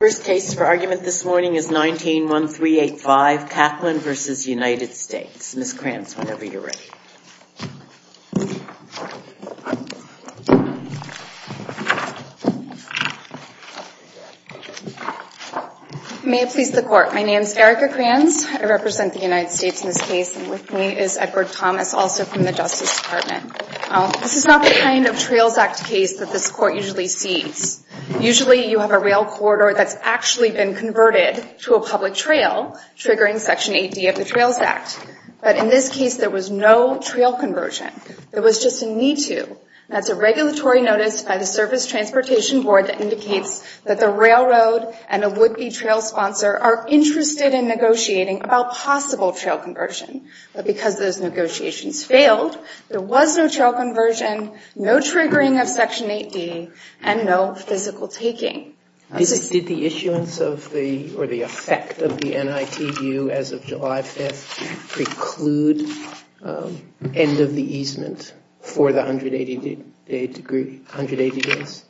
First case for argument this morning is 19-1385, Kaquelin v. United States. Ms. Krantz, whenever you're ready. May it please the Court. My name is Erica Krantz. I represent the United States in this case, and with me is Edward Thomas, also from the Justice Department. This is not the kind of Trails Act case that this Court usually sees. Usually you have a rail corridor that's actually been converted to a public trail, triggering Section 8D of the Trails Act. But in this case, there was no trail conversion. There was just a need to. And that's a regulatory notice by the Service Transportation Board that indicates that the railroad and a would-be trail sponsor are interested in negotiating about possible trail conversion. But because those negotiations failed, there was no trail conversion, no issuance of the, or the effect of the NITU as of July 5th preclude end of the easement for the 180 days?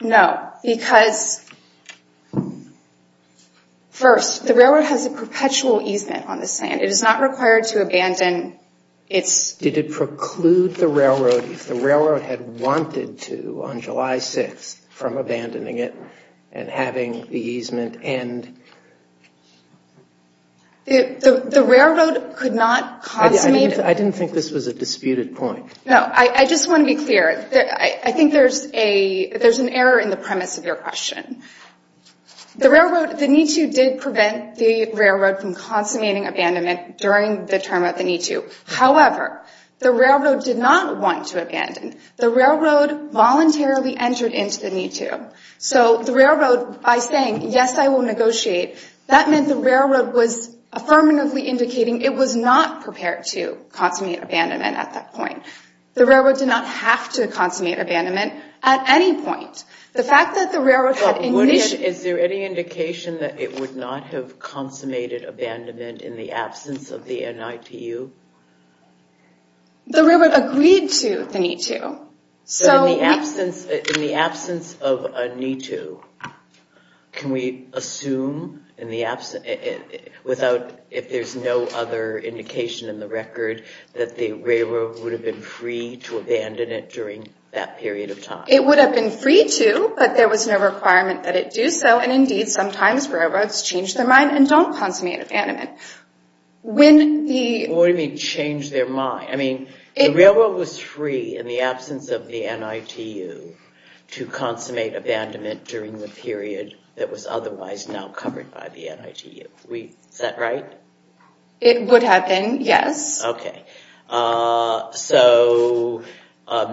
No, because first, the railroad has a perpetual easement on this land. It is not required to abandon its... Did it preclude the railroad, if the railroad had wanted to on July 6th, from abandoning it and having the easement end? The railroad could not consummate... I didn't think this was a disputed point. No, I just want to be clear. I think there's a, there's an error in the premise of your question. The railroad, the NITU did prevent the railroad from consummating abandonment during the term of the NITU. However, the railroad voluntarily entered into the NITU. So the railroad, by saying, yes, I will negotiate, that meant the railroad was affirmatively indicating it was not prepared to consummate abandonment at that point. The railroad did not have to consummate abandonment at any point. The fact that the railroad had initially... Is there any indication that it would not have consummated abandonment in the absence of the NITU? The railroad agreed to the NITU. In the absence of a NITU, can we assume, without, if there's no other indication in the record, that the railroad would have been free to abandon it during that period of time? It would have been free to, but there was no requirement that it do so, and indeed sometimes railroads change their mind and don't consummate abandonment. What do you mean change their mind? The railroad was free in the absence of the NITU to consummate abandonment during the period that was otherwise now covered by the NITU. Is that right? It would have been, yes. So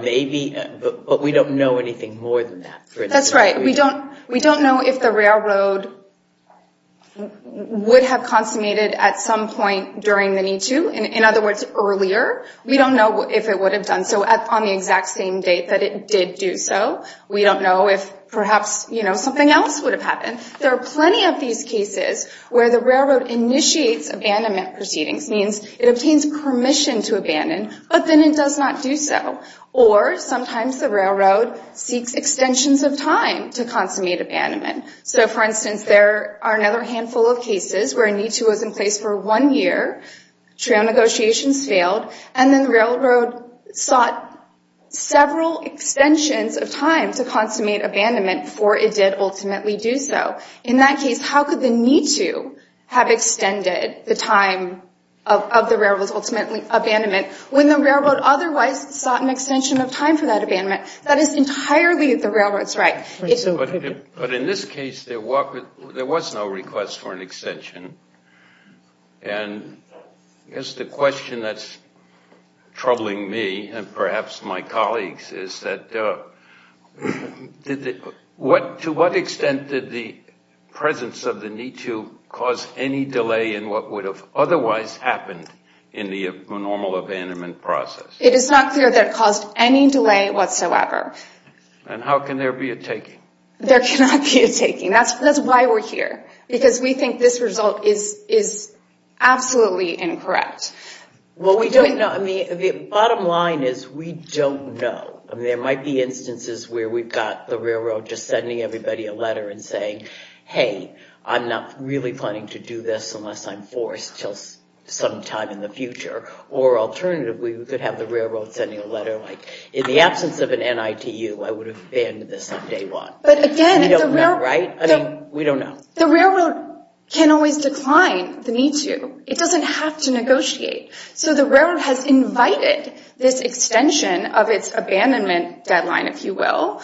maybe, but we don't know anything more than that. That's right. We don't know if the railroad would have consummated at some point during the NITU. In other words, earlier. We don't know if it would have done so on the exact same date that it did do so. We don't know if perhaps something else would have happened. There are plenty of these cases where the railroad initiates abandonment proceedings, means it obtains permission to abandon, but then it does not do so. Or sometimes the railroad seeks extensions of time to consummate abandonment. So for instance, there are another handful of cases where a NITU was in place for one year, trail negotiations failed, and then the railroad sought several extensions of time to consummate abandonment before it did ultimately do so. In that case, how could the NITU have extended the time of the railroad's abandonment when the railroad otherwise sought an extension of time for that abandonment? That is entirely the railroad's right. But in this case, there was no request for an extension. And I guess the question that's troubling me, and perhaps my colleagues, is that to what extent did the presence of the NITU cause any delay in what would have otherwise happened in the normal abandonment process? It is not clear that it caused any delay whatsoever. And how can there be a taking? There cannot be a taking. That's why we're here, because we think this result is absolutely incorrect. Well, we don't know. I mean, the bottom line is we don't know. I mean, there might be instances where we've got the railroad just sending everybody a letter and saying, hey, I'm not really planning to do this unless I'm forced till some time in the future. Or alternatively, we could have the railroad sending a letter like, in the absence of an NITU, I would have banned this on day one. But again, we don't know, right? I mean, we don't know. The railroad can always decline the need to. It doesn't have to negotiate. So the railroad has invited this extension of its abandonment deadline, if you will,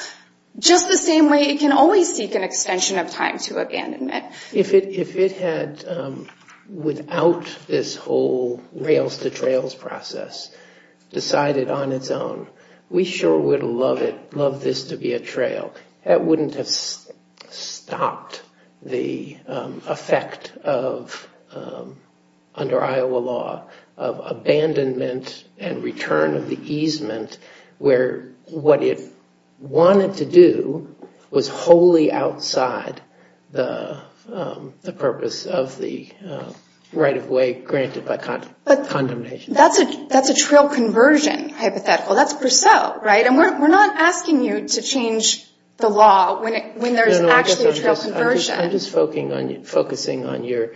just the same way it can always seek an extension of time to abandonment. If it had, without this whole rails-to-trails process decided on its own, we sure would love it, love this to be a trail. That wouldn't have stopped the effect of, under Iowa law, of abandonment and return of the easement where what it wanted to do was wholly outside the purpose of the right-of-way granted by condemnation. But that's a trail conversion hypothetical. That's Purcell, right? And we're not asking you to change the law when there's actually a trail conversion. I'm just focusing on your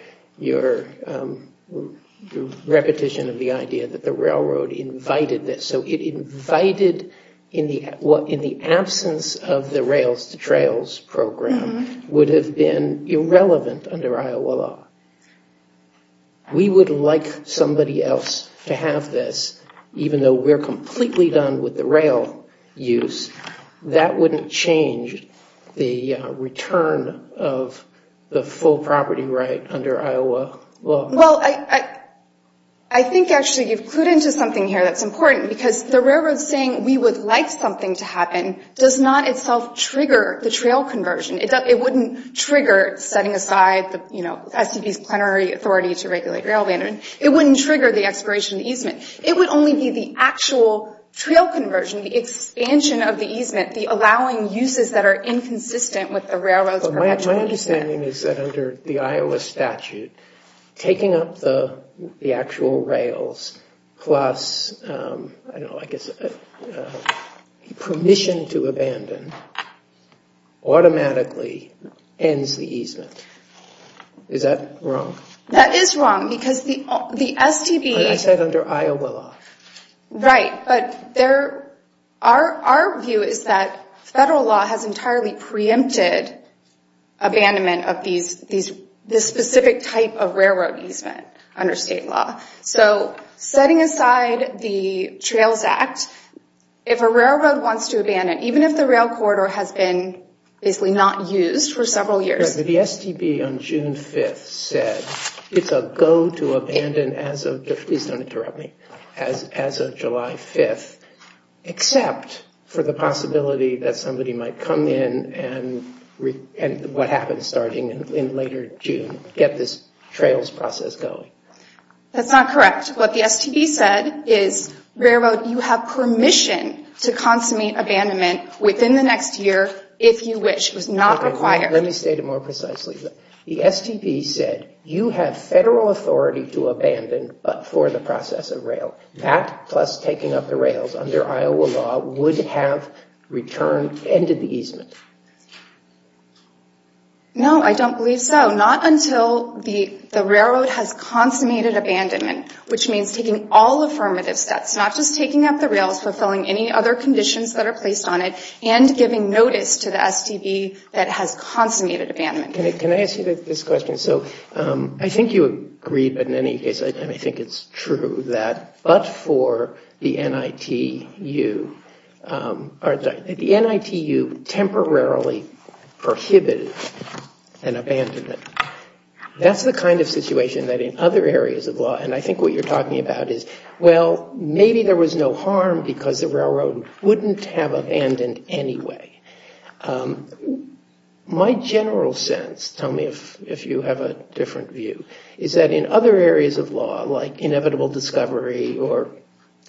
repetition of the idea that the railroad invited this. So it invited, in the absence of the rails-to-trails program, would have been irrelevant under Iowa law. We would like somebody else to have this, even though we're completely done with the rail use. That wouldn't change the return of the full property right under Iowa law. Well, I think actually you've clued into something here that's important, because the railroad saying we would like something to happen does not itself trigger the trail conversion. It wouldn't trigger setting aside the SDP's plenary authority to regulate rail abandonment. It wouldn't trigger the expiration of the easement. It would only be the actual trail conversion, the expansion of the easement, the allowing uses that are inconsistent with the railroad's perpetual use. My understanding is that under the Iowa statute, taking up the actual rails plus, I don't know, I guess, permission to abandon automatically ends the easement. Is that wrong? That is wrong, because the SDP... I said under Iowa law. Right, but our view is that federal law has entirely preempted abandonment of this specific type of railroad easement under state law. So setting aside the Trails Act, if a railroad wants to abandon, even if the rail corridor has been basically not used for several years... The STB on June 5th said it's a go to abandon as of, please don't interrupt me, as of July 5th, except for the possibility that somebody might come in and what happens starting in later June, get this trails process going. That's not correct. What the STB said is railroad, you have permission to consummate abandonment within the next year if you wish. It was not required. Let me state it more precisely. The STB said you have federal authority to abandon but for the process of rail. That plus taking up the rails under Iowa law would have returned, ended the easement. No, I don't believe so. Not until the railroad has consummated abandonment, which means taking all affirmative steps, not just taking up the rails, fulfilling any other conditions that are placed on it, and giving notice to the STB that has consummated abandonment. Can I ask you this question? So I think you agreed, but in any case, I think it's true that, but for the NITU temporarily prohibited an abandonment. That's the kind of situation that in other areas of law, and I think what you're talking about is, well, maybe there was no harm because the railroad wouldn't have abandoned anyway. My general sense, tell me if you have a different view, is that in other areas of law, like inevitable discovery, or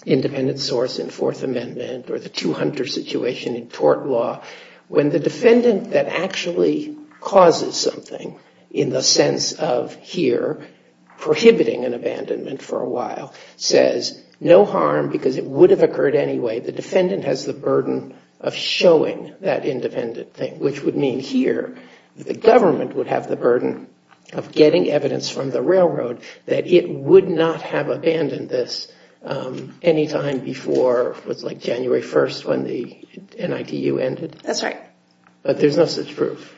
independent source in Fourth Amendment, or the two hunter situation in tort law, when the defendant that actually causes something, in the sense of here prohibiting an abandonment for a while, says no harm because it would have occurred anyway, the defendant has the burden of showing that independent thing. Which would mean here, the government would have the burden of getting evidence from the railroad that it would not have abandoned this any time before, what's like January 1st, when the NITU ended. That's right. But there's no such proof.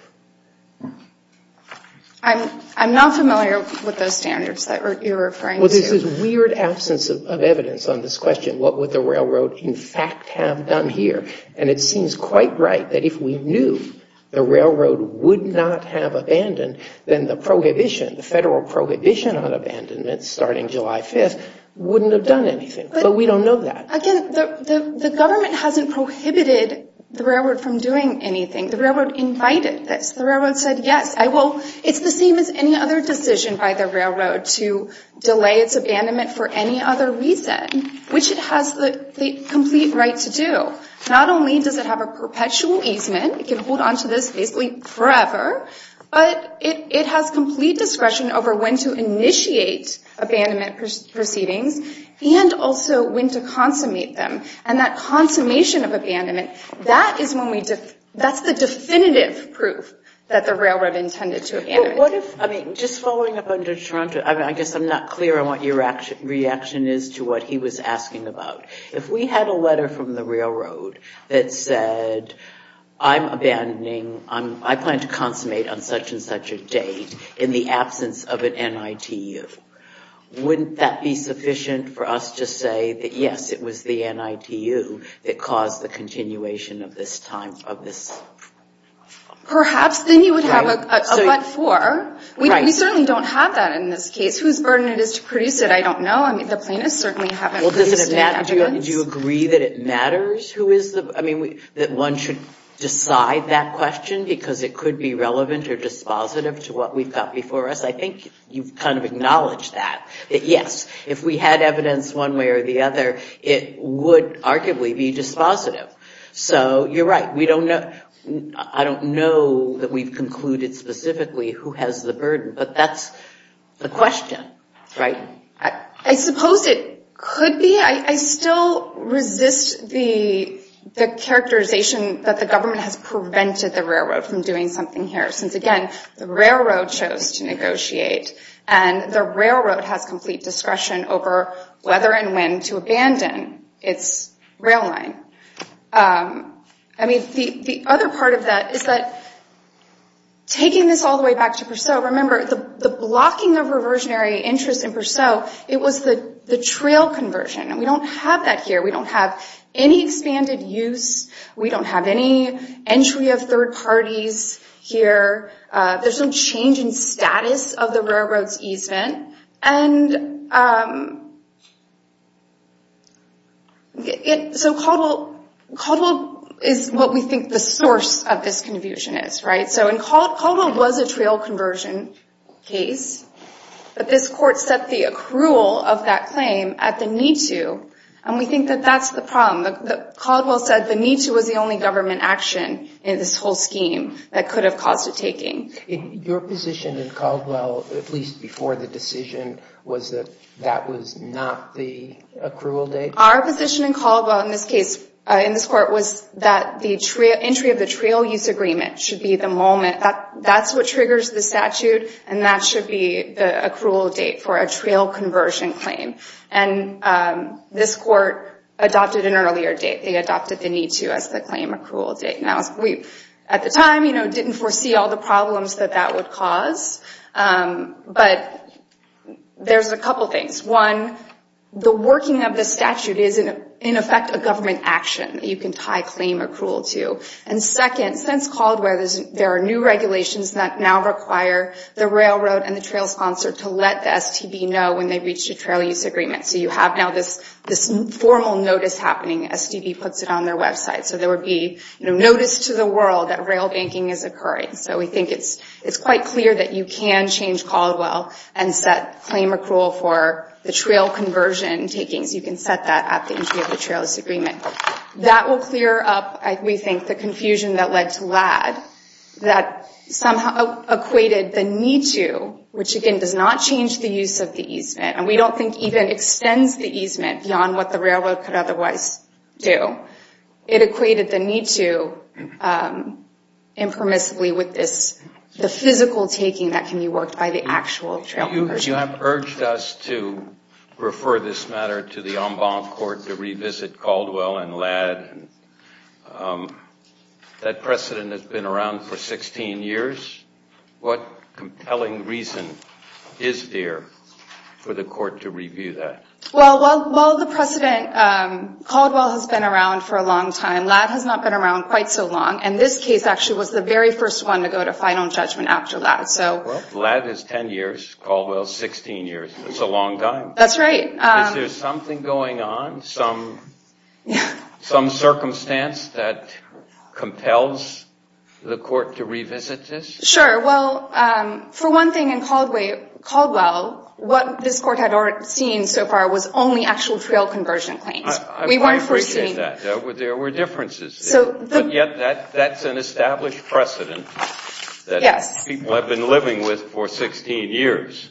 I'm not familiar with those standards that you're referring to. There's this weird absence of evidence on this question. What would the railroad, in fact, have done here? And it seems quite right that if we knew the railroad would not have abandoned, then the prohibition, the federal prohibition on abandonment, starting July 5th, wouldn't have done anything. But we don't know that. Again, the government hasn't prohibited the railroad from doing anything. The railroad invited this. The railroad said, yes, I will. It's the same as any other decision by the railroad to delay its abandonment for any other reason, which it has the complete right to do. Not only does it have a perpetual easement, it can hold onto this basically forever, but it has complete discretion over when to initiate abandonment proceedings and also when to consummate them. And that consummation of abandonment, that is when we, that's the definitive proof that the railroad intended to abandon. But what if, I mean, just following up under Toronto, I guess I'm not clear on what your reaction is to what he was asking about. If we had a letter from the railroad that said, I'm abandoning, I plan to consummate on such and such a date in the absence of an NITU, wouldn't that be sufficient for us to say that, yes, it was the NITU that caused the continuation of this time, of this? Perhaps, then you would have a but for. We certainly don't have that in this case. Whose burden it is to produce it, I don't know. I mean, the plaintiffs certainly haven't produced any evidence. Do you agree that it matters who is the, I mean, that one should decide that question because it could be relevant or dispositive to what we've got before us. I think you've kind of acknowledged that, that yes, if we had evidence one way or the other, it would arguably be dispositive. So you're right. We don't know, I don't know that we've concluded specifically who has the burden, but that's the question, right? I suppose it could be. I still resist the characterization that the government has prevented the railroad from doing something here since, again, the railroad chose to negotiate and the railroad has complete discretion over whether and when to abandon its rail line. I mean, the other part of that is that taking this all the way back to Purcell, remember the blocking of reversionary interest in Purcell, it was the trail conversion. And we don't have that here. We don't have any expanded use. We don't have any entry of third parties here. There's no change in status of the railroad's easement. And so Caldwell is what we think the source of this confusion is, right? So Caldwell was a trail conversion case, but this court set the accrual of that claim at the need to, and we think that that's the problem. Caldwell said the need to was the only government action in this whole scheme that could have caused it taking. Your position in Caldwell, at least before the decision, was that that was not the accrual date? Our position in Caldwell, in this case, in this court, was that the entry of the trail use agreement should be the moment. That's what triggers the statute, and that should be the accrual date for a trail conversion claim. And this court adopted an earlier date. They adopted the need to as the claim accrual date. At the time, we didn't foresee all the problems that that would cause. But there's a couple things. One, the working of the statute is, in effect, a government action that you can tie claim accrual to. And second, since Caldwell, there are new regulations that now require the railroad and the trail sponsor to let the STB know when they've reached a trail use agreement. So you have now this formal notice happening. STB puts it on their website. So there would be notice to the world that rail banking is occurring. So we think it's quite clear that you can change Caldwell and set claim accrual for the trail conversion takings. You can set that at the entry of the trail use agreement. That will clear up, we think, the confusion that led to Ladd that somehow equated the need to, which, again, does not change the use of the easement. And we don't think even extends the easement beyond what the railroad could otherwise do. It equated the need to impermissibly with the physical taking that can be worked by the actual trail conversion. You have urged us to refer this matter to the en banc court to revisit Caldwell and Ladd. That precedent has been around for 16 years. What compelling reason is there for the court to review that? Well, while the precedent, Caldwell has been around for a long time. Ladd has not been around quite so long. And this case actually was the very first one to go to final judgment after Ladd. So Ladd is 10 years. Caldwell is 16 years. It's a long time. That's right. Is there something going on, some circumstance that compels the court to revisit this? Sure. Well, for one thing, in Caldwell, what this court had seen so far was only actual trail conversion claims. We weren't foreseeing that. There were differences. But yet, that's an established precedent that people have been living with for 16 years.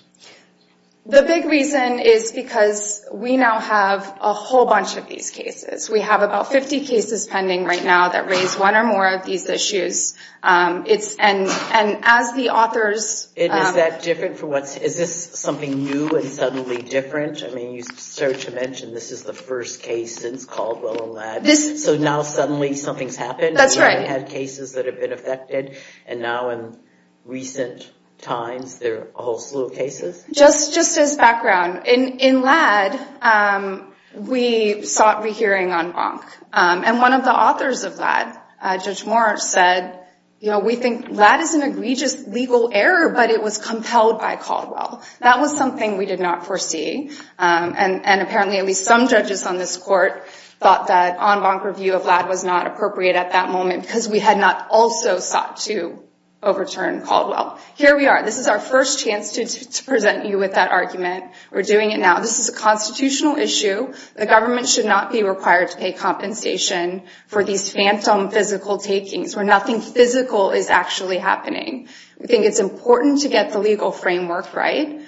The big reason is because we now have a whole bunch of these cases. We have about 50 cases pending right now that raise one or more of these issues. And as the authors... And is that different for what's... Is this something new and suddenly different? I mean, you started to mention this is the first case since Caldwell and Ladd. So now, suddenly, something's happened? That's right. We've had cases that have been affected. And now, in recent times, there are a whole slew of cases? Just as background, in Ladd, we sought re-hearing on Bonk. And one of the authors of Ladd, Judge Moore, said, we think Ladd is an egregious legal error, but it was compelled by Caldwell. That was something we did not foresee. And apparently, at least some judges on this court thought that on Bonk review of Ladd was not appropriate at that moment because we had not also sought to overturn Caldwell. Here we are. This is our first chance to present you with that argument. We're doing it now. This is a constitutional issue. The government should not be required to pay compensation for these phantom physical takings where nothing physical is actually happening. We think it's important to get the legal framework right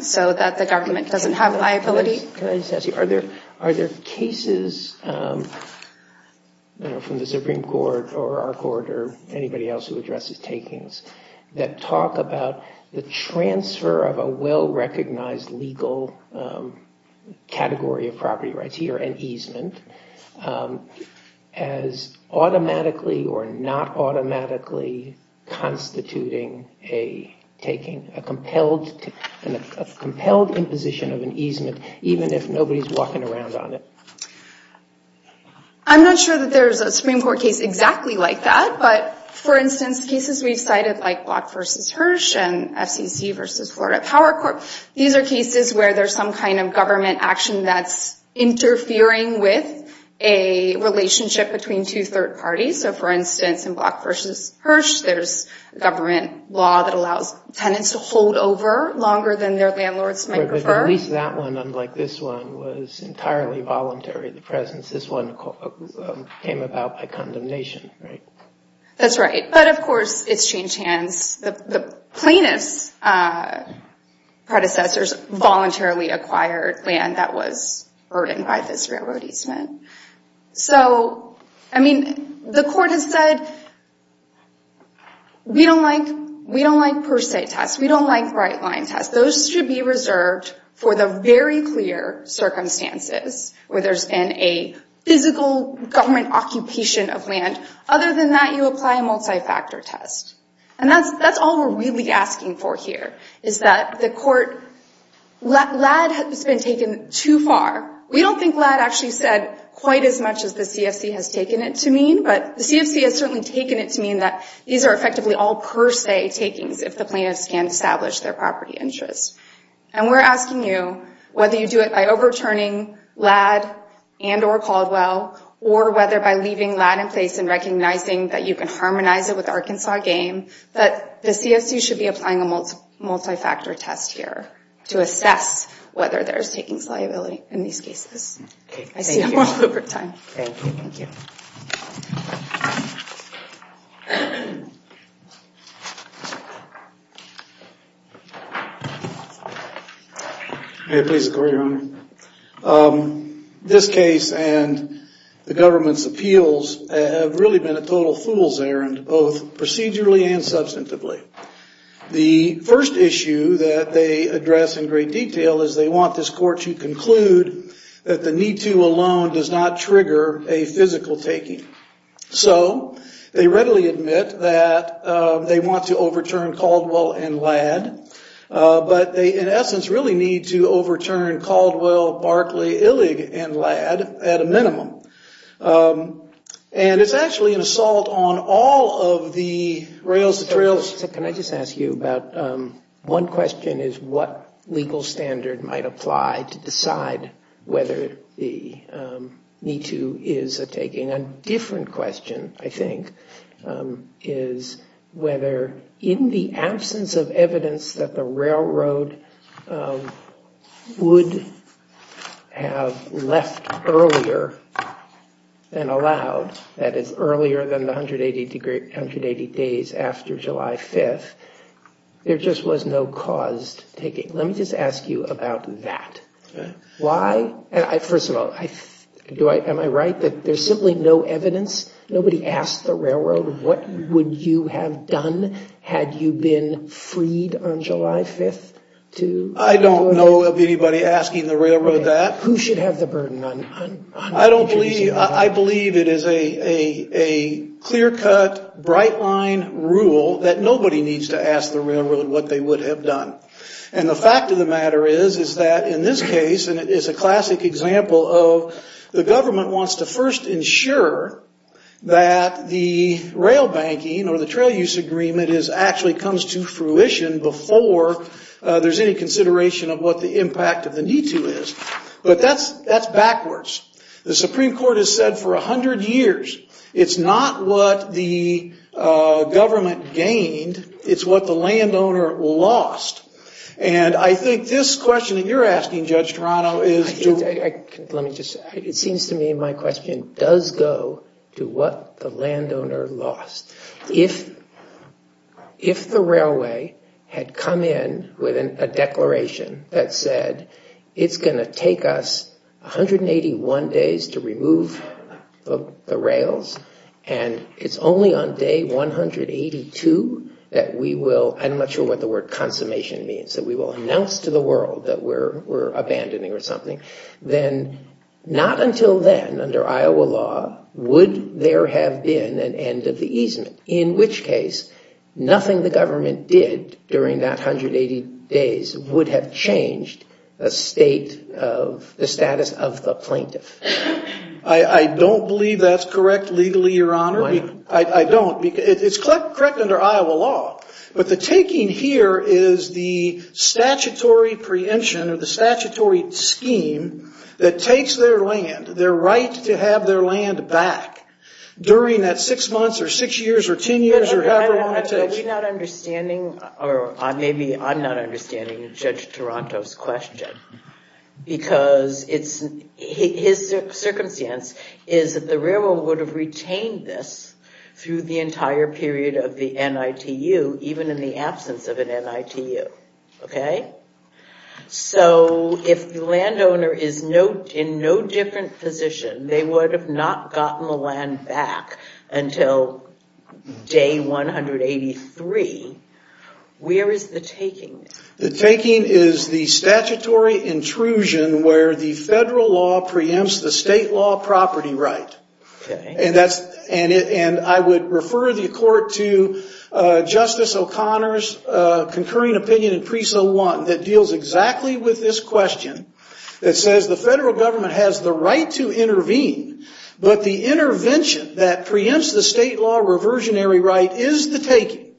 so that the government doesn't have liability. Can I just ask you, are there cases from the Supreme Court or our court or anybody else who addresses takings that talk about the transfer of a well-recognized legal category of property rights here, an easement, as automatically or not automatically constituting a taking, a compelled imposition of an easement, even if nobody's walking around on it? I'm not sure that there's a Supreme Court case exactly like that. But for instance, cases we've cited like Block v. Hirsch and FCC v. Florida Power Corp., these are cases where there's some kind of government action that's interfering with a relationship between two third parties. So for instance, in Block v. Hirsch, there's a government law that allows tenants to hold over longer than their landlords might prefer. But at least that one, unlike this one, was entirely voluntary, the presence. This one came about by condemnation, right? That's right. But of course, it's changed hands. The plaintiff's predecessors voluntarily acquired land that was burdened by this railroad easement. So I mean, the court has said, we don't like per se tests. We don't like right-line tests. Those should be reserved for the very clear circumstances where there's been a physical government occupation of land. Other than that, you apply a multi-factor test. And that's all we're really asking for here, is that the court, LAD has been taken too far. We don't think LAD actually said quite as much as the CFC has taken it to mean. But the CFC has certainly taken it to mean that these are effectively all per se takings if the plaintiffs can establish their property interests. And we're asking you whether you do it by overturning LAD and or Caldwell, or whether by leaving LAD in place and recognizing that you can harmonize it with the Arkansas game. But the CFC should be applying a multi-factor test here to assess whether there's takings liability in these cases. OK. I see no more time. Thank you. May I please agree, Your Honor? Um, this case and the government's appeals have really been a total fool's errand, both procedurally and substantively. The first issue that they address in great detail is they want this court to conclude that the need to alone does not trigger a physical taking. So they readily admit that they want to overturn Caldwell and LAD. But they, in essence, really need to overturn Caldwell, Barkley, Illig, and LAD at a minimum. And it's actually an assault on all of the rails to trails. Can I just ask you about one question is what legal standard might apply to decide whether the need to is a taking? A different question, I think, is whether in the absence of evidence that the railroad would have left earlier than allowed, that is earlier than the 180 days after July 5th, there just was no caused taking. Let me just ask you about that. Why? First of all, am I right that there's simply no evidence? Nobody asked the railroad what would you have done had you been freed on July 5th? I don't know of anybody asking the railroad that. Who should have the burden? I believe it is a clear-cut, bright-line rule that nobody needs to ask the railroad what they would have done. And the fact of the matter is that in this case, and it is a classic example of the government wants to first ensure that the rail banking or the trail use agreement actually comes to fruition before there's any consideration of what the impact of the need to is. But that's backwards. The Supreme Court has said for 100 years it's not what the government gained, it's what the landowner lost. And I think this question that you're asking, Judge Toronto, is... It seems to me my question does go to what the landowner lost. If the railway had come in with a declaration that said it's going to take us 181 days to remove the rails, and it's only on day 182 that we will... I'm not sure what the word consummation means. That we will announce to the world that we're abandoning or something. Then, not until then, under Iowa law, would there have been an end of the easement. In which case, nothing the government did during that 180 days would have changed the status of the plaintiff. I don't believe that's correct legally, Your Honor. Why not? I don't. It's correct under Iowa law. But the taking here is the statutory preemption or the statutory scheme that takes their land, their right to have their land back during that six months or six years or 10 years or however long it takes. Are we not understanding, or maybe I'm not understanding Judge Toronto's question? Because his circumstance is that the railroad would have retained this through the entire period of the NITU, even in the absence of an NITU. If the landowner is in no different position, they would have not gotten the land back until day 183. Where is the taking? The taking is the statutory intrusion where the federal law preempts the state law property right. I would refer the court to Justice O'Connor's concurring opinion in Preso 1 that deals exactly with this question. It says the federal government has the right to intervene, but the intervention that preempts the state law reversionary right is the taking.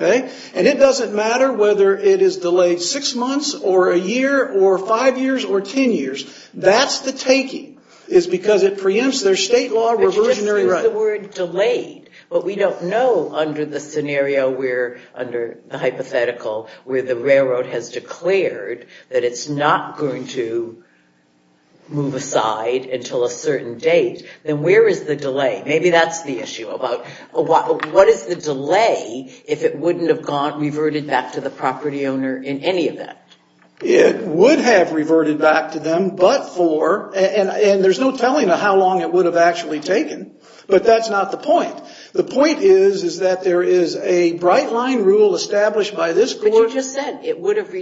Okay? And it doesn't matter whether it is delayed six months or a year or five years or 10 years. That's the taking, is because it preempts their state law reversionary right. The word delayed, but we don't know under the scenario where, under the hypothetical, where the railroad has declared that it's not going to move aside until a certain date, then where is the delay? Maybe that's the issue. What is the delay if it wouldn't have reverted back to the property owner in any event? It would have reverted back to them, but for, and there's no telling how long it would have actually taken, but that's not the point. The point is that there is a bright line rule established by this court. But you just said it would have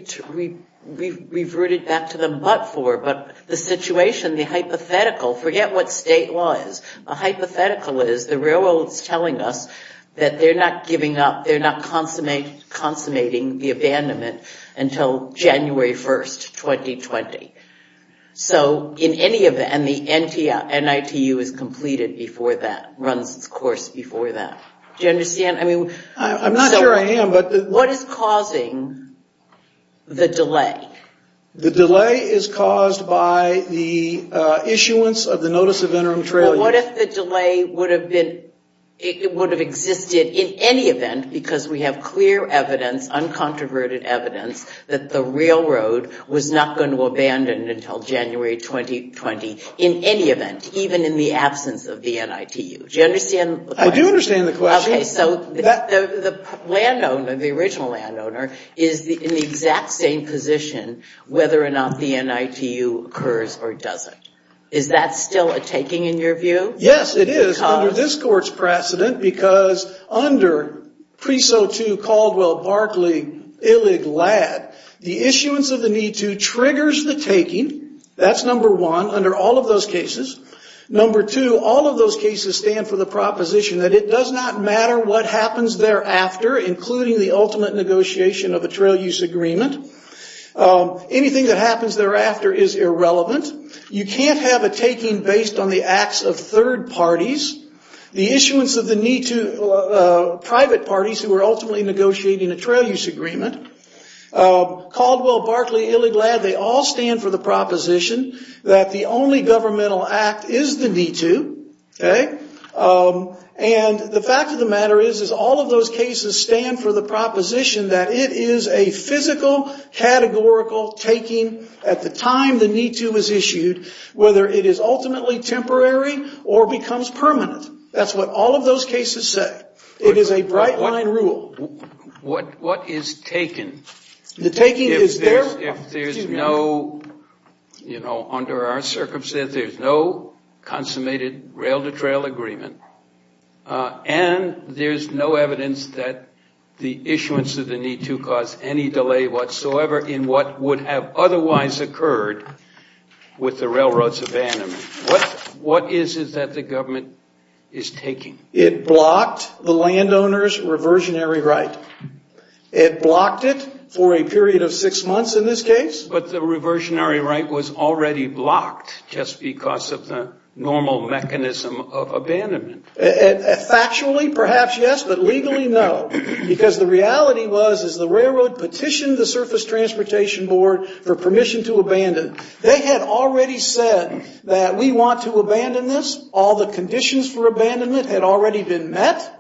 reverted back to them, but for, but the situation, the hypothetical, forget what state law is, the hypothetical is the railroad's telling us that they're not giving up, they're not consummating the abandonment until January 1st, 2020. So in any event, the NITU is completed before that, runs its course before that. Do you understand? I mean, I'm not sure I am, but what is causing the delay? The delay is caused by the issuance of the Notice of Interim Trailing. What if the delay would have been, it would have existed in any event, because we have clear evidence, uncontroverted evidence, that the railroad was not going to abandon until January 2020 in any event, even in the absence of the NITU. Do you understand? I do understand the question. So the landowner, the original landowner, is in the exact same position, whether or not the NITU occurs or doesn't. Is that still a taking in your view? Yes, it is under this court's precedent, because under Preso 2, Caldwell, Barkley, Illig, Ladd, the issuance of the Need-To triggers the taking. That's number one under all of those cases. Number two, all of those cases stand for the proposition that it does not matter what happens thereafter, including the ultimate negotiation of a trail use agreement. Anything that happens thereafter is irrelevant. You can't have a taking based on the acts of third parties. The issuance of the NITU, private parties who are ultimately negotiating a trail use agreement, Caldwell, Barkley, Illig, Ladd, they all stand for the proposition that the only governmental act is the NITU. And the fact of the matter is, is all of those cases stand for the proposition that it is a physical, categorical taking at the time the NITU is issued, whether it is ultimately temporary or becomes permanent. That's what all of those cases say. It is a bright line rule. What is taken? The taking is there. If there's no, you know, under our circumstances, there's no consummated rail-to-trail agreement. And there's no evidence that the issuance of the NITU caused any delay whatsoever in what would have otherwise occurred with the railroads abandonment. What is it that the government is taking? It blocked the landowners' reversionary right. It blocked it for a period of six months in this case. But the reversionary right was already blocked just because of the normal mechanism of abandonment. Factually, perhaps yes, but legally, no. Because the reality was, is the railroad petitioned the Surface Transportation Board for permission to abandon. They had already said that we want to abandon this. All the conditions for abandonment had already been met.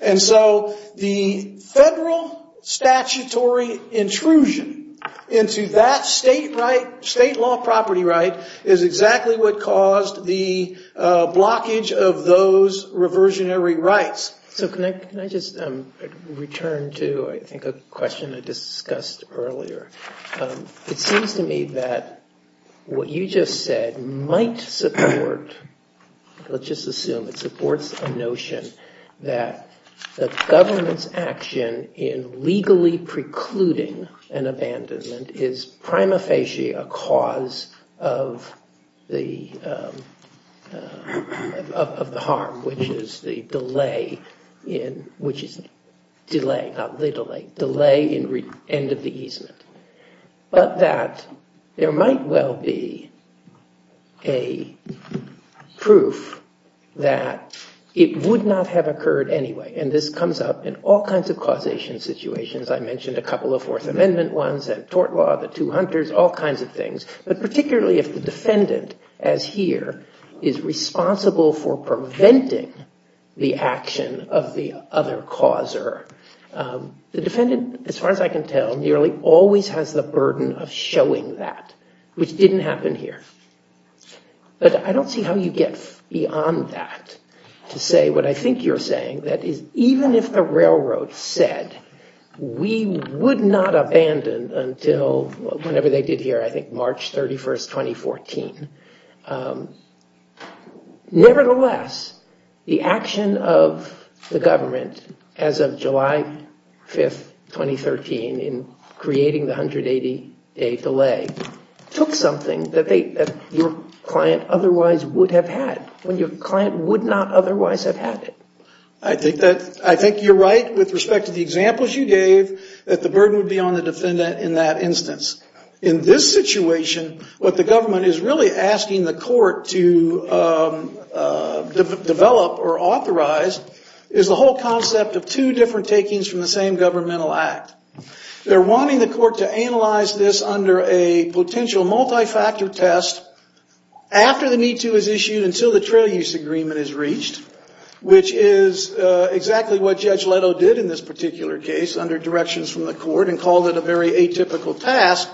And so the federal statutory intrusion into that state right, state law property right, is exactly what caused the blockage of those reversionary rights. So can I just return to, I think, a question I discussed earlier. It seems to me that what you just said might support, let's just assume it supports a notion that the government's action in legally precluding an abandonment is prima facie a cause of the harm, which is the delay in, which is delay, not the delay, delay in end of the easement. But that there might well be a proof that it would not have occurred anyway. And this comes up in all kinds of causation situations. I mentioned a couple of Fourth Amendment ones, that tort law, the two hunters, all kinds of things. But particularly if the defendant, as here, is responsible for preventing the action of the other causer, the defendant, as far as I can tell, nearly always has the burden of showing that, which didn't happen here. But I don't see how you get beyond that to say what I think you're saying, that is, even if the railroad said we would not abandon until, whenever they did here, I think March 31st, 2014. Nevertheless, the action of the government, as of July 5th, 2013, in creating the 180-day delay, took something that your client otherwise would have had, when your client would not otherwise have had it. I think that, I think you're right with respect to the examples you gave, that the burden would be on the defendant in that instance. Asking the court to develop, or authorize, is the whole concept of two different takings from the same governmental act. They're wanting the court to analyze this under a potential multi-factor test after the need to is issued, until the trail use agreement is reached, which is exactly what Judge Leto did in this particular case, under directions from the court, and called it a very atypical task.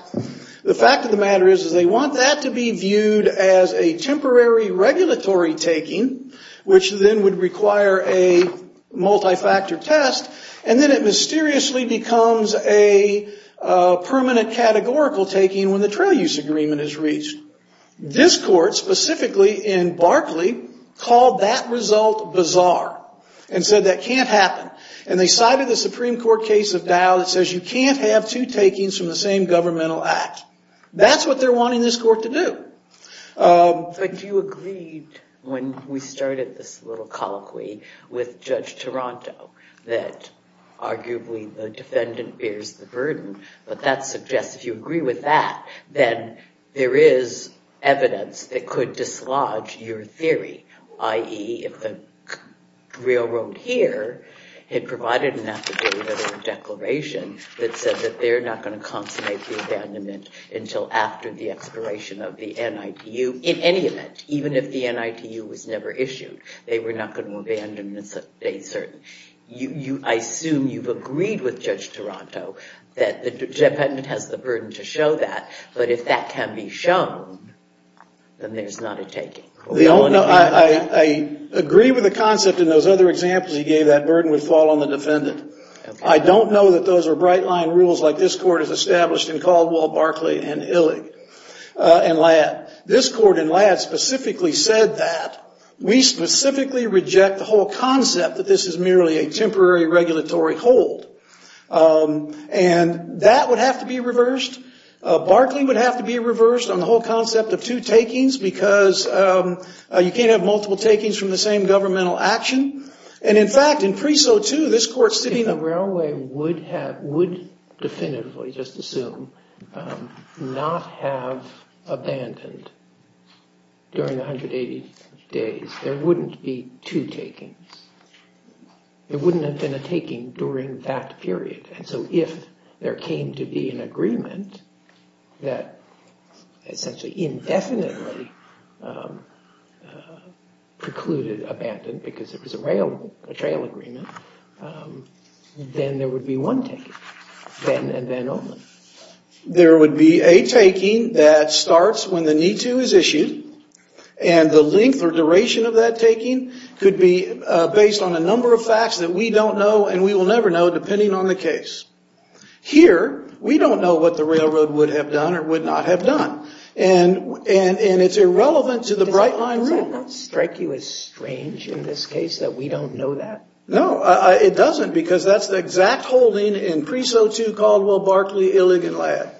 The fact of the matter is, is they want that to be viewed as a temporary regulatory taking, which then would require a multi-factor test, and then it mysteriously becomes a permanent categorical taking when the trail use agreement is reached. This court, specifically in Barclay, called that result bizarre, and said that can't happen. And they cited the Supreme Court case of Dow that says you can't have two takings from the same governmental act. That's what they're wanting this court to do. But do you agree, when we started this little colloquy with Judge Taranto, that arguably the defendant bears the burden, but that suggests if you agree with that, then there is evidence that could dislodge your theory, i.e. if the railroad here had provided an affidavit or declaration that said that they're not going to consummate the abandonment until after the expiration of the NITU, in any event, even if the NITU was never issued, they were not going to abandon a certain... I assume you've agreed with Judge Taranto that the defendant has the burden to show that, but if that can be shown, then there's not a taking. I agree with the concept in those other examples. He gave that burden would fall on the defendant. I don't know that those are bright-line rules like this court has established in Caldwell, Barclay, and Illig, and Ladd. This court in Ladd specifically said that. We specifically reject the whole concept that this is merely a temporary regulatory hold. And that would have to be reversed. Barclay would have to be reversed on the whole concept of two takings because you can't have multiple takings from the same governmental action. And in fact, in Preso 2, this court... If the railway would definitively, just assume, not have abandoned during the 180 days, there wouldn't be two takings. There wouldn't have been a taking during that period. And so if there came to be an agreement that essentially indefinitely precluded abandon because it was a rail agreement, then there would be one taking, then and then only. There would be a taking that starts when the need to is issued. And the length or duration of that taking could be based on a number of facts that we don't know and we will never know depending on the case. Here, we don't know what the railroad would have done or would not have done. And it's irrelevant to the Bright Line Rule. Does that strike you as strange in this case that we don't know that? No, it doesn't because that's the exact holding in Preso 2, Caldwell, Barclay, Illig, and Ladd.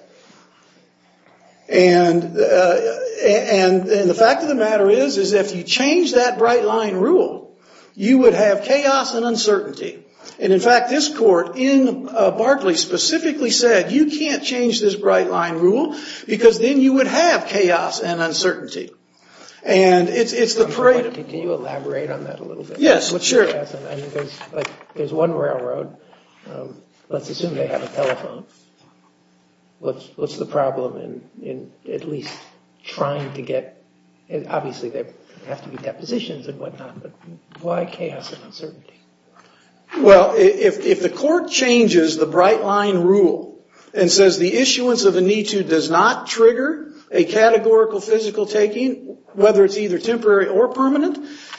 And the fact of the matter is, is if you change that Bright Line Rule, you would have chaos and uncertainty. And in fact, this court in Barclay specifically said, you can't change this Bright Line Rule because then you would have chaos and uncertainty. And it's the parade of- Can you elaborate on that a little bit? Yes, sure. There's one railroad, let's assume they have a telephone. What's the problem in at least trying to get, obviously, there have to be depositions and whatnot, but why chaos and uncertainty? Well, if the court changes the Bright Line Rule and says the issuance of a NITU does not trigger a categorical physical taking, whether it's either temporary or permanent,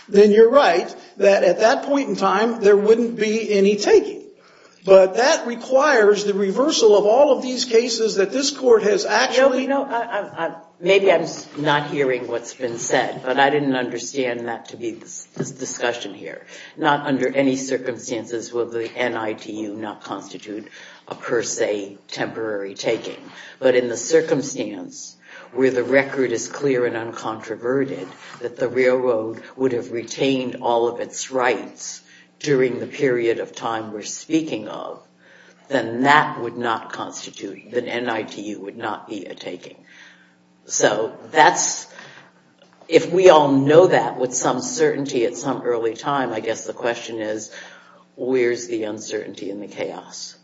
then you're right that at that point in time, there wouldn't be any taking. But that requires the reversal of all of these cases that this court has actually- Maybe I'm not hearing what's been said, but I didn't understand that to be this discussion here. Not under any circumstances will the NITU not constitute a per se temporary taking. But in the circumstance where the record is clear and uncontroverted, that the railroad would have retained all of its rights during the period of time we're speaking of, then that would not constitute- The NITU would not be a taking. So that's- If we all know that with some certainty at some early time, the question is, where's the uncertainty and the chaos?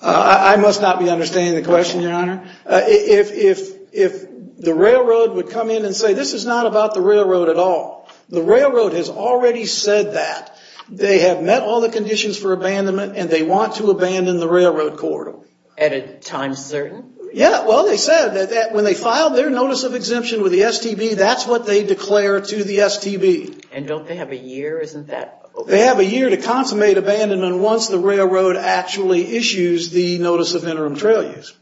I must not be understanding the question, Your Honor. If the railroad would come in and say, this is not about the railroad at all. The railroad has already said that. They have met all the conditions for abandonment, and they want to abandon the railroad corridor. At a time certain? Yeah, well, they said that when they filed their notice of exemption with the STB, that's what they declare to the STB. And don't they have a year? Isn't that- They have a year to consummate abandonment once the railroad actually issues the notice of interim trail use.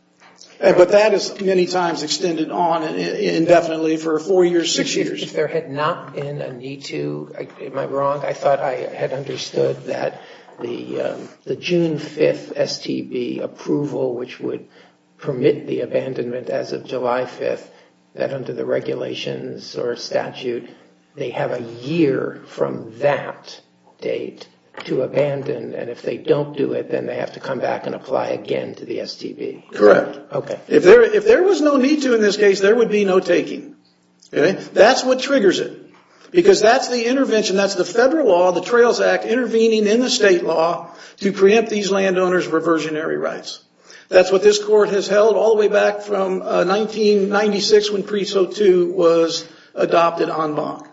But that is many times extended on indefinitely for four years, six years. If there had not been a NITU, am I wrong? I thought I had understood that the June 5th STB approval, which would permit the abandonment as of July 5th, that under the regulations or statute, they have a year from that date to abandon. And if they don't do it, then they have to come back and apply again to the STB. Correct. Okay. If there was no NITU in this case, there would be no taking. That's what triggers it. Because that's the intervention, that's the federal law, the Trails Act intervening in the state law to preempt these landowners' reversionary rights. That's what this court has held all the way back from 1996 when Preso 2 was adopted en banc.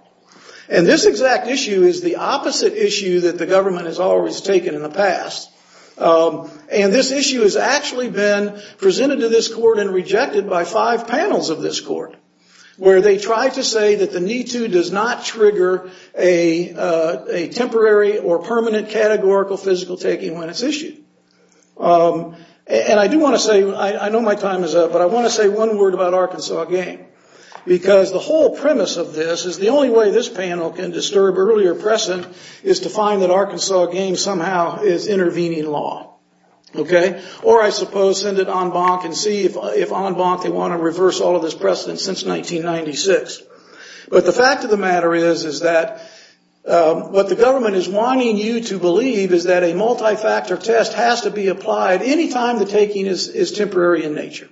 And this exact issue is the opposite issue that the government has always taken in the past. And this issue has actually been presented to this court and rejected by five panels of this court, where they tried to say that the NITU does not trigger a temporary or permanent categorical physical taking when it's issued. And I do want to say, I know my time is up, but I want to say one word about Arkansas Game. Because the whole premise of this is the only way this panel can disturb earlier precedent is to find that Arkansas Game somehow is intervening law. Okay. Or I suppose send it en banc and see if en banc, they want to reverse all of this precedent since 1996. But the fact of the matter is, is that what the government is wanting you to believe is that a multi-factor test has to be applied anytime the taking is temporary in nature.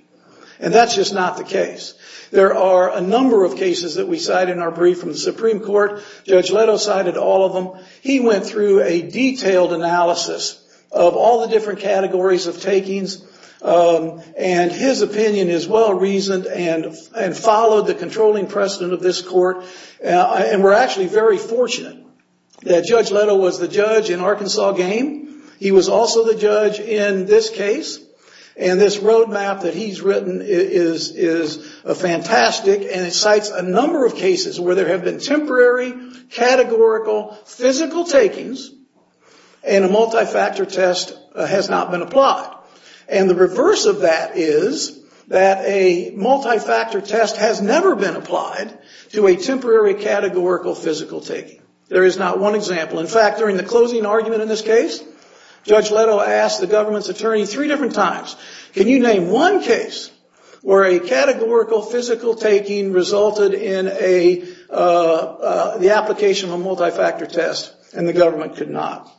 And that's just not the case. There are a number of cases that we cite in our brief from the Supreme Court. Judge Leto cited all of them. He went through a detailed analysis of all the different categories of takings. And his opinion is well reasoned and followed the controlling precedent of this court. And we're actually very fortunate that Judge Leto was the judge in Arkansas Game. He was also the judge in this case. And this roadmap that he's written is fantastic. And it cites a number of cases where there have been temporary categorical physical takings and a multi-factor test has not been applied. And the reverse of that is that a multi-factor test has never been applied to a temporary categorical physical taking. There is not one example. In fact, during the closing argument in this case, Judge Leto asked the government's attorney three different times, can you name one case where a categorical physical taking resulted in the application of a multi-factor test and the government could not?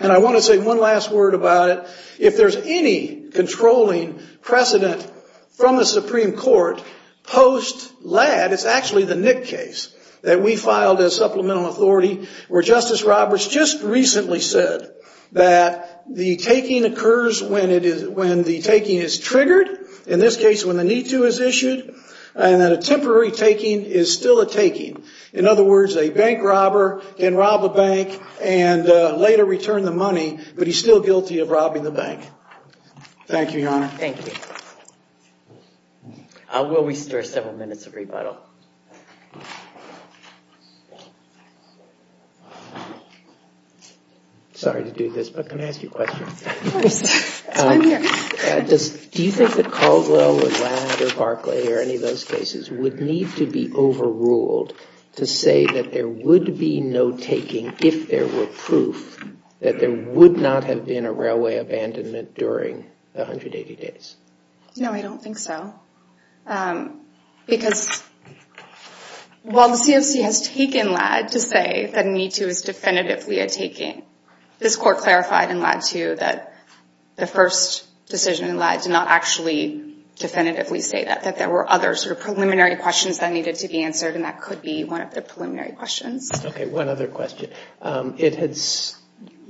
And I want to say one last word about it. If there's any controlling precedent from the Supreme Court post Ladd, it's actually the Nick case that we filed as supplemental authority where Justice Roberts just recently said that the taking occurs when the taking is triggered, in this case when the need to is issued, and that a temporary taking is still a taking. In other words, a bank robber can rob a bank and later return the money, but he's still guilty of robbing the bank. Thank you, Your Honor. Thank you. Will we start several minutes of rebuttal? Sorry to do this, but can I ask you a question? Of course. Do you think that Caldwell or Ladd or Barclay or any of those cases would need to be overruled to say that there would be no taking if there were proof that there would not have been a railway abandonment during the 180 days? Because I don't think that there would be Well, the CFC has taken Ladd to say that a need to is definitively a taking. This Court clarified in Ladd 2 that the first decision in Ladd did not actually definitively say that, that there were other sort of preliminary questions that needed to be answered and that could be one of the preliminary questions. Okay, one other question.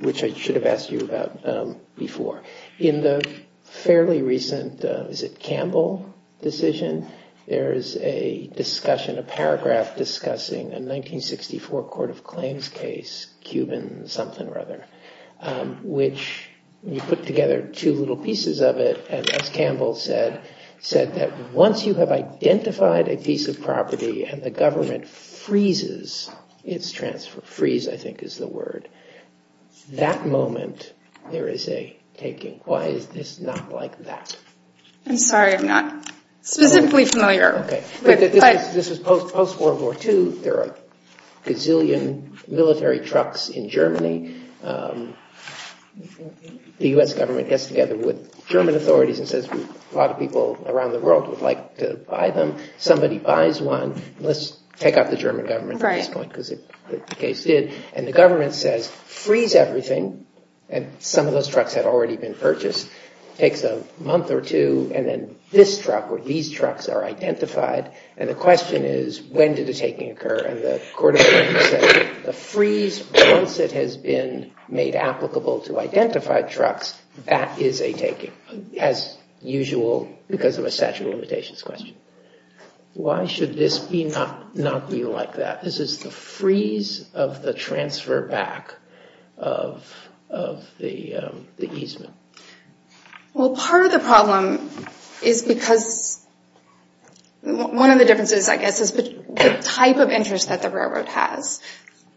Which I should have asked you about before. In the fairly recent, is it Campbell decision? There is a discussion, a paragraph discussing a 1964 Court of Claims case, Cuban something or other, which you put together two little pieces of it and as Campbell said, said that once you have identified a piece of property and the government freezes its transfer, freeze I think is the word, that moment there is a taking. Why is this not like that? I'm sorry, I'm not specifically familiar. This is post-World War II. There are a gazillion military trucks in Germany. The U.S. government gets together with German authorities and says a lot of people around the world would like to buy them. Somebody buys one, let's take out the German government at this point because the case did and the government says freeze everything and some of those trucks had already been purchased, takes a month or two and then this truck or these trucks are identified and the question is when did the taking occur? And the Court of Claims says the freeze, once it has been made applicable to identified trucks, that is a taking as usual because of a statute of limitations question. Why should this not be like that? This is the freeze of the transfer back of the easement. Well, part of the problem is because one of the differences, I guess, is the type of interest that the railroad has.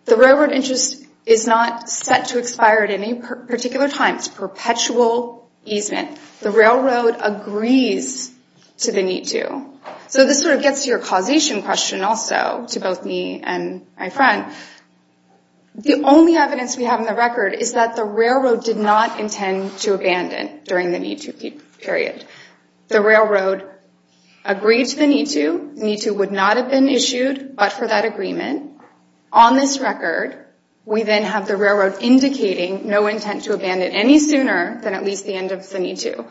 The railroad interest is not set to expire at any particular time. It's perpetual easement. The railroad agrees to the need to. So this sort of gets to your causation question also to both me and my friend. The only evidence we have in the record is that the railroad did not intend to abandon. During the need to period, the railroad agreed to the need to. Need to would not have been issued, but for that agreement on this record, we then have the railroad indicating no intent to abandon any sooner than at least the end of the need to.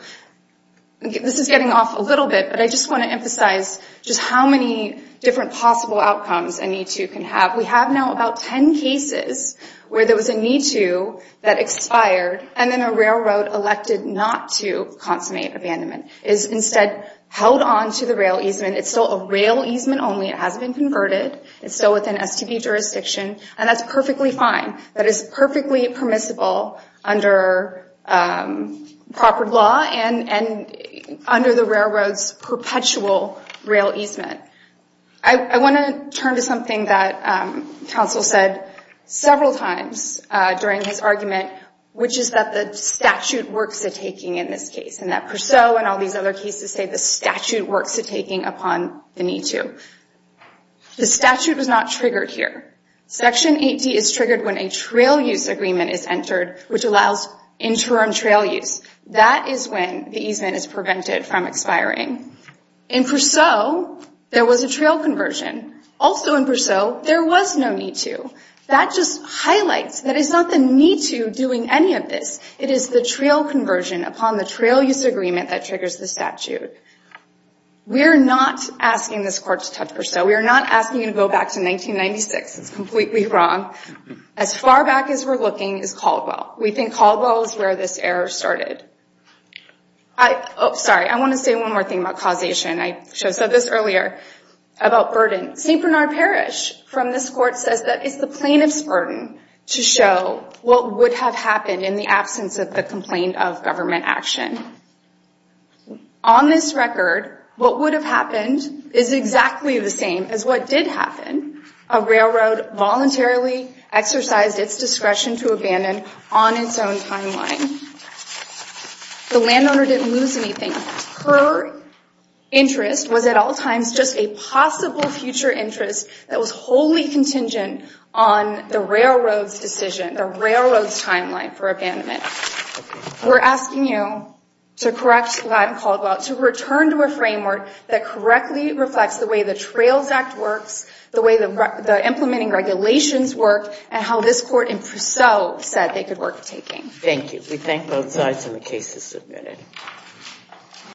This is getting off a little bit, but I just want to emphasize just how many different possible outcomes a need to can have. We have now about 10 cases where there was a need to that expired and then a railroad elected not to consummate abandonment is instead held on to the rail easement. It's still a rail easement only. It hasn't been converted. It's still within STB jurisdiction and that's perfectly fine. That is perfectly permissible under proper law and under the railroad's perpetual rail easement. I want to turn to something that counsel said several times during his argument, which is that the statute works at taking in this case and that Purseau and all these other cases say the statute works at taking upon the need to. The statute was not triggered here. Section 80 is triggered when a trail use agreement is entered, which allows interim trail use. That is when the easement is prevented from expiring. In Purseau, there was a trail conversion. Also in Purseau, there was no need to. That just highlights that it's not the need to doing any of this. It is the trail conversion upon the trail use agreement that triggers the statute. We're not asking this court to touch Purseau. We are not asking it to go back to 1996. It's completely wrong. As far back as we're looking is Caldwell. We think Caldwell is where this error started. I, oh, sorry. I want to say one more thing about causation. I said this earlier about burden. St. Bernard Parish from this court says that it's the plaintiff's burden to show what would have happened in the absence of the complaint of government action. On this record, what would have happened is exactly the same as what did happen. A railroad voluntarily exercised its discretion to abandon on its own timeline. The landowner didn't lose anything. Her interest was at all times just a possible future interest that was wholly contingent on the railroad's decision, the railroad's timeline for abandonment. We're asking you to correct Latin Caldwell to return to a framework that correctly reflects the way the Trails Act works, the way the implementing regulations work, and how this court in Purseau said they could work with taking. Thank you. We thank both sides and the case is submitted.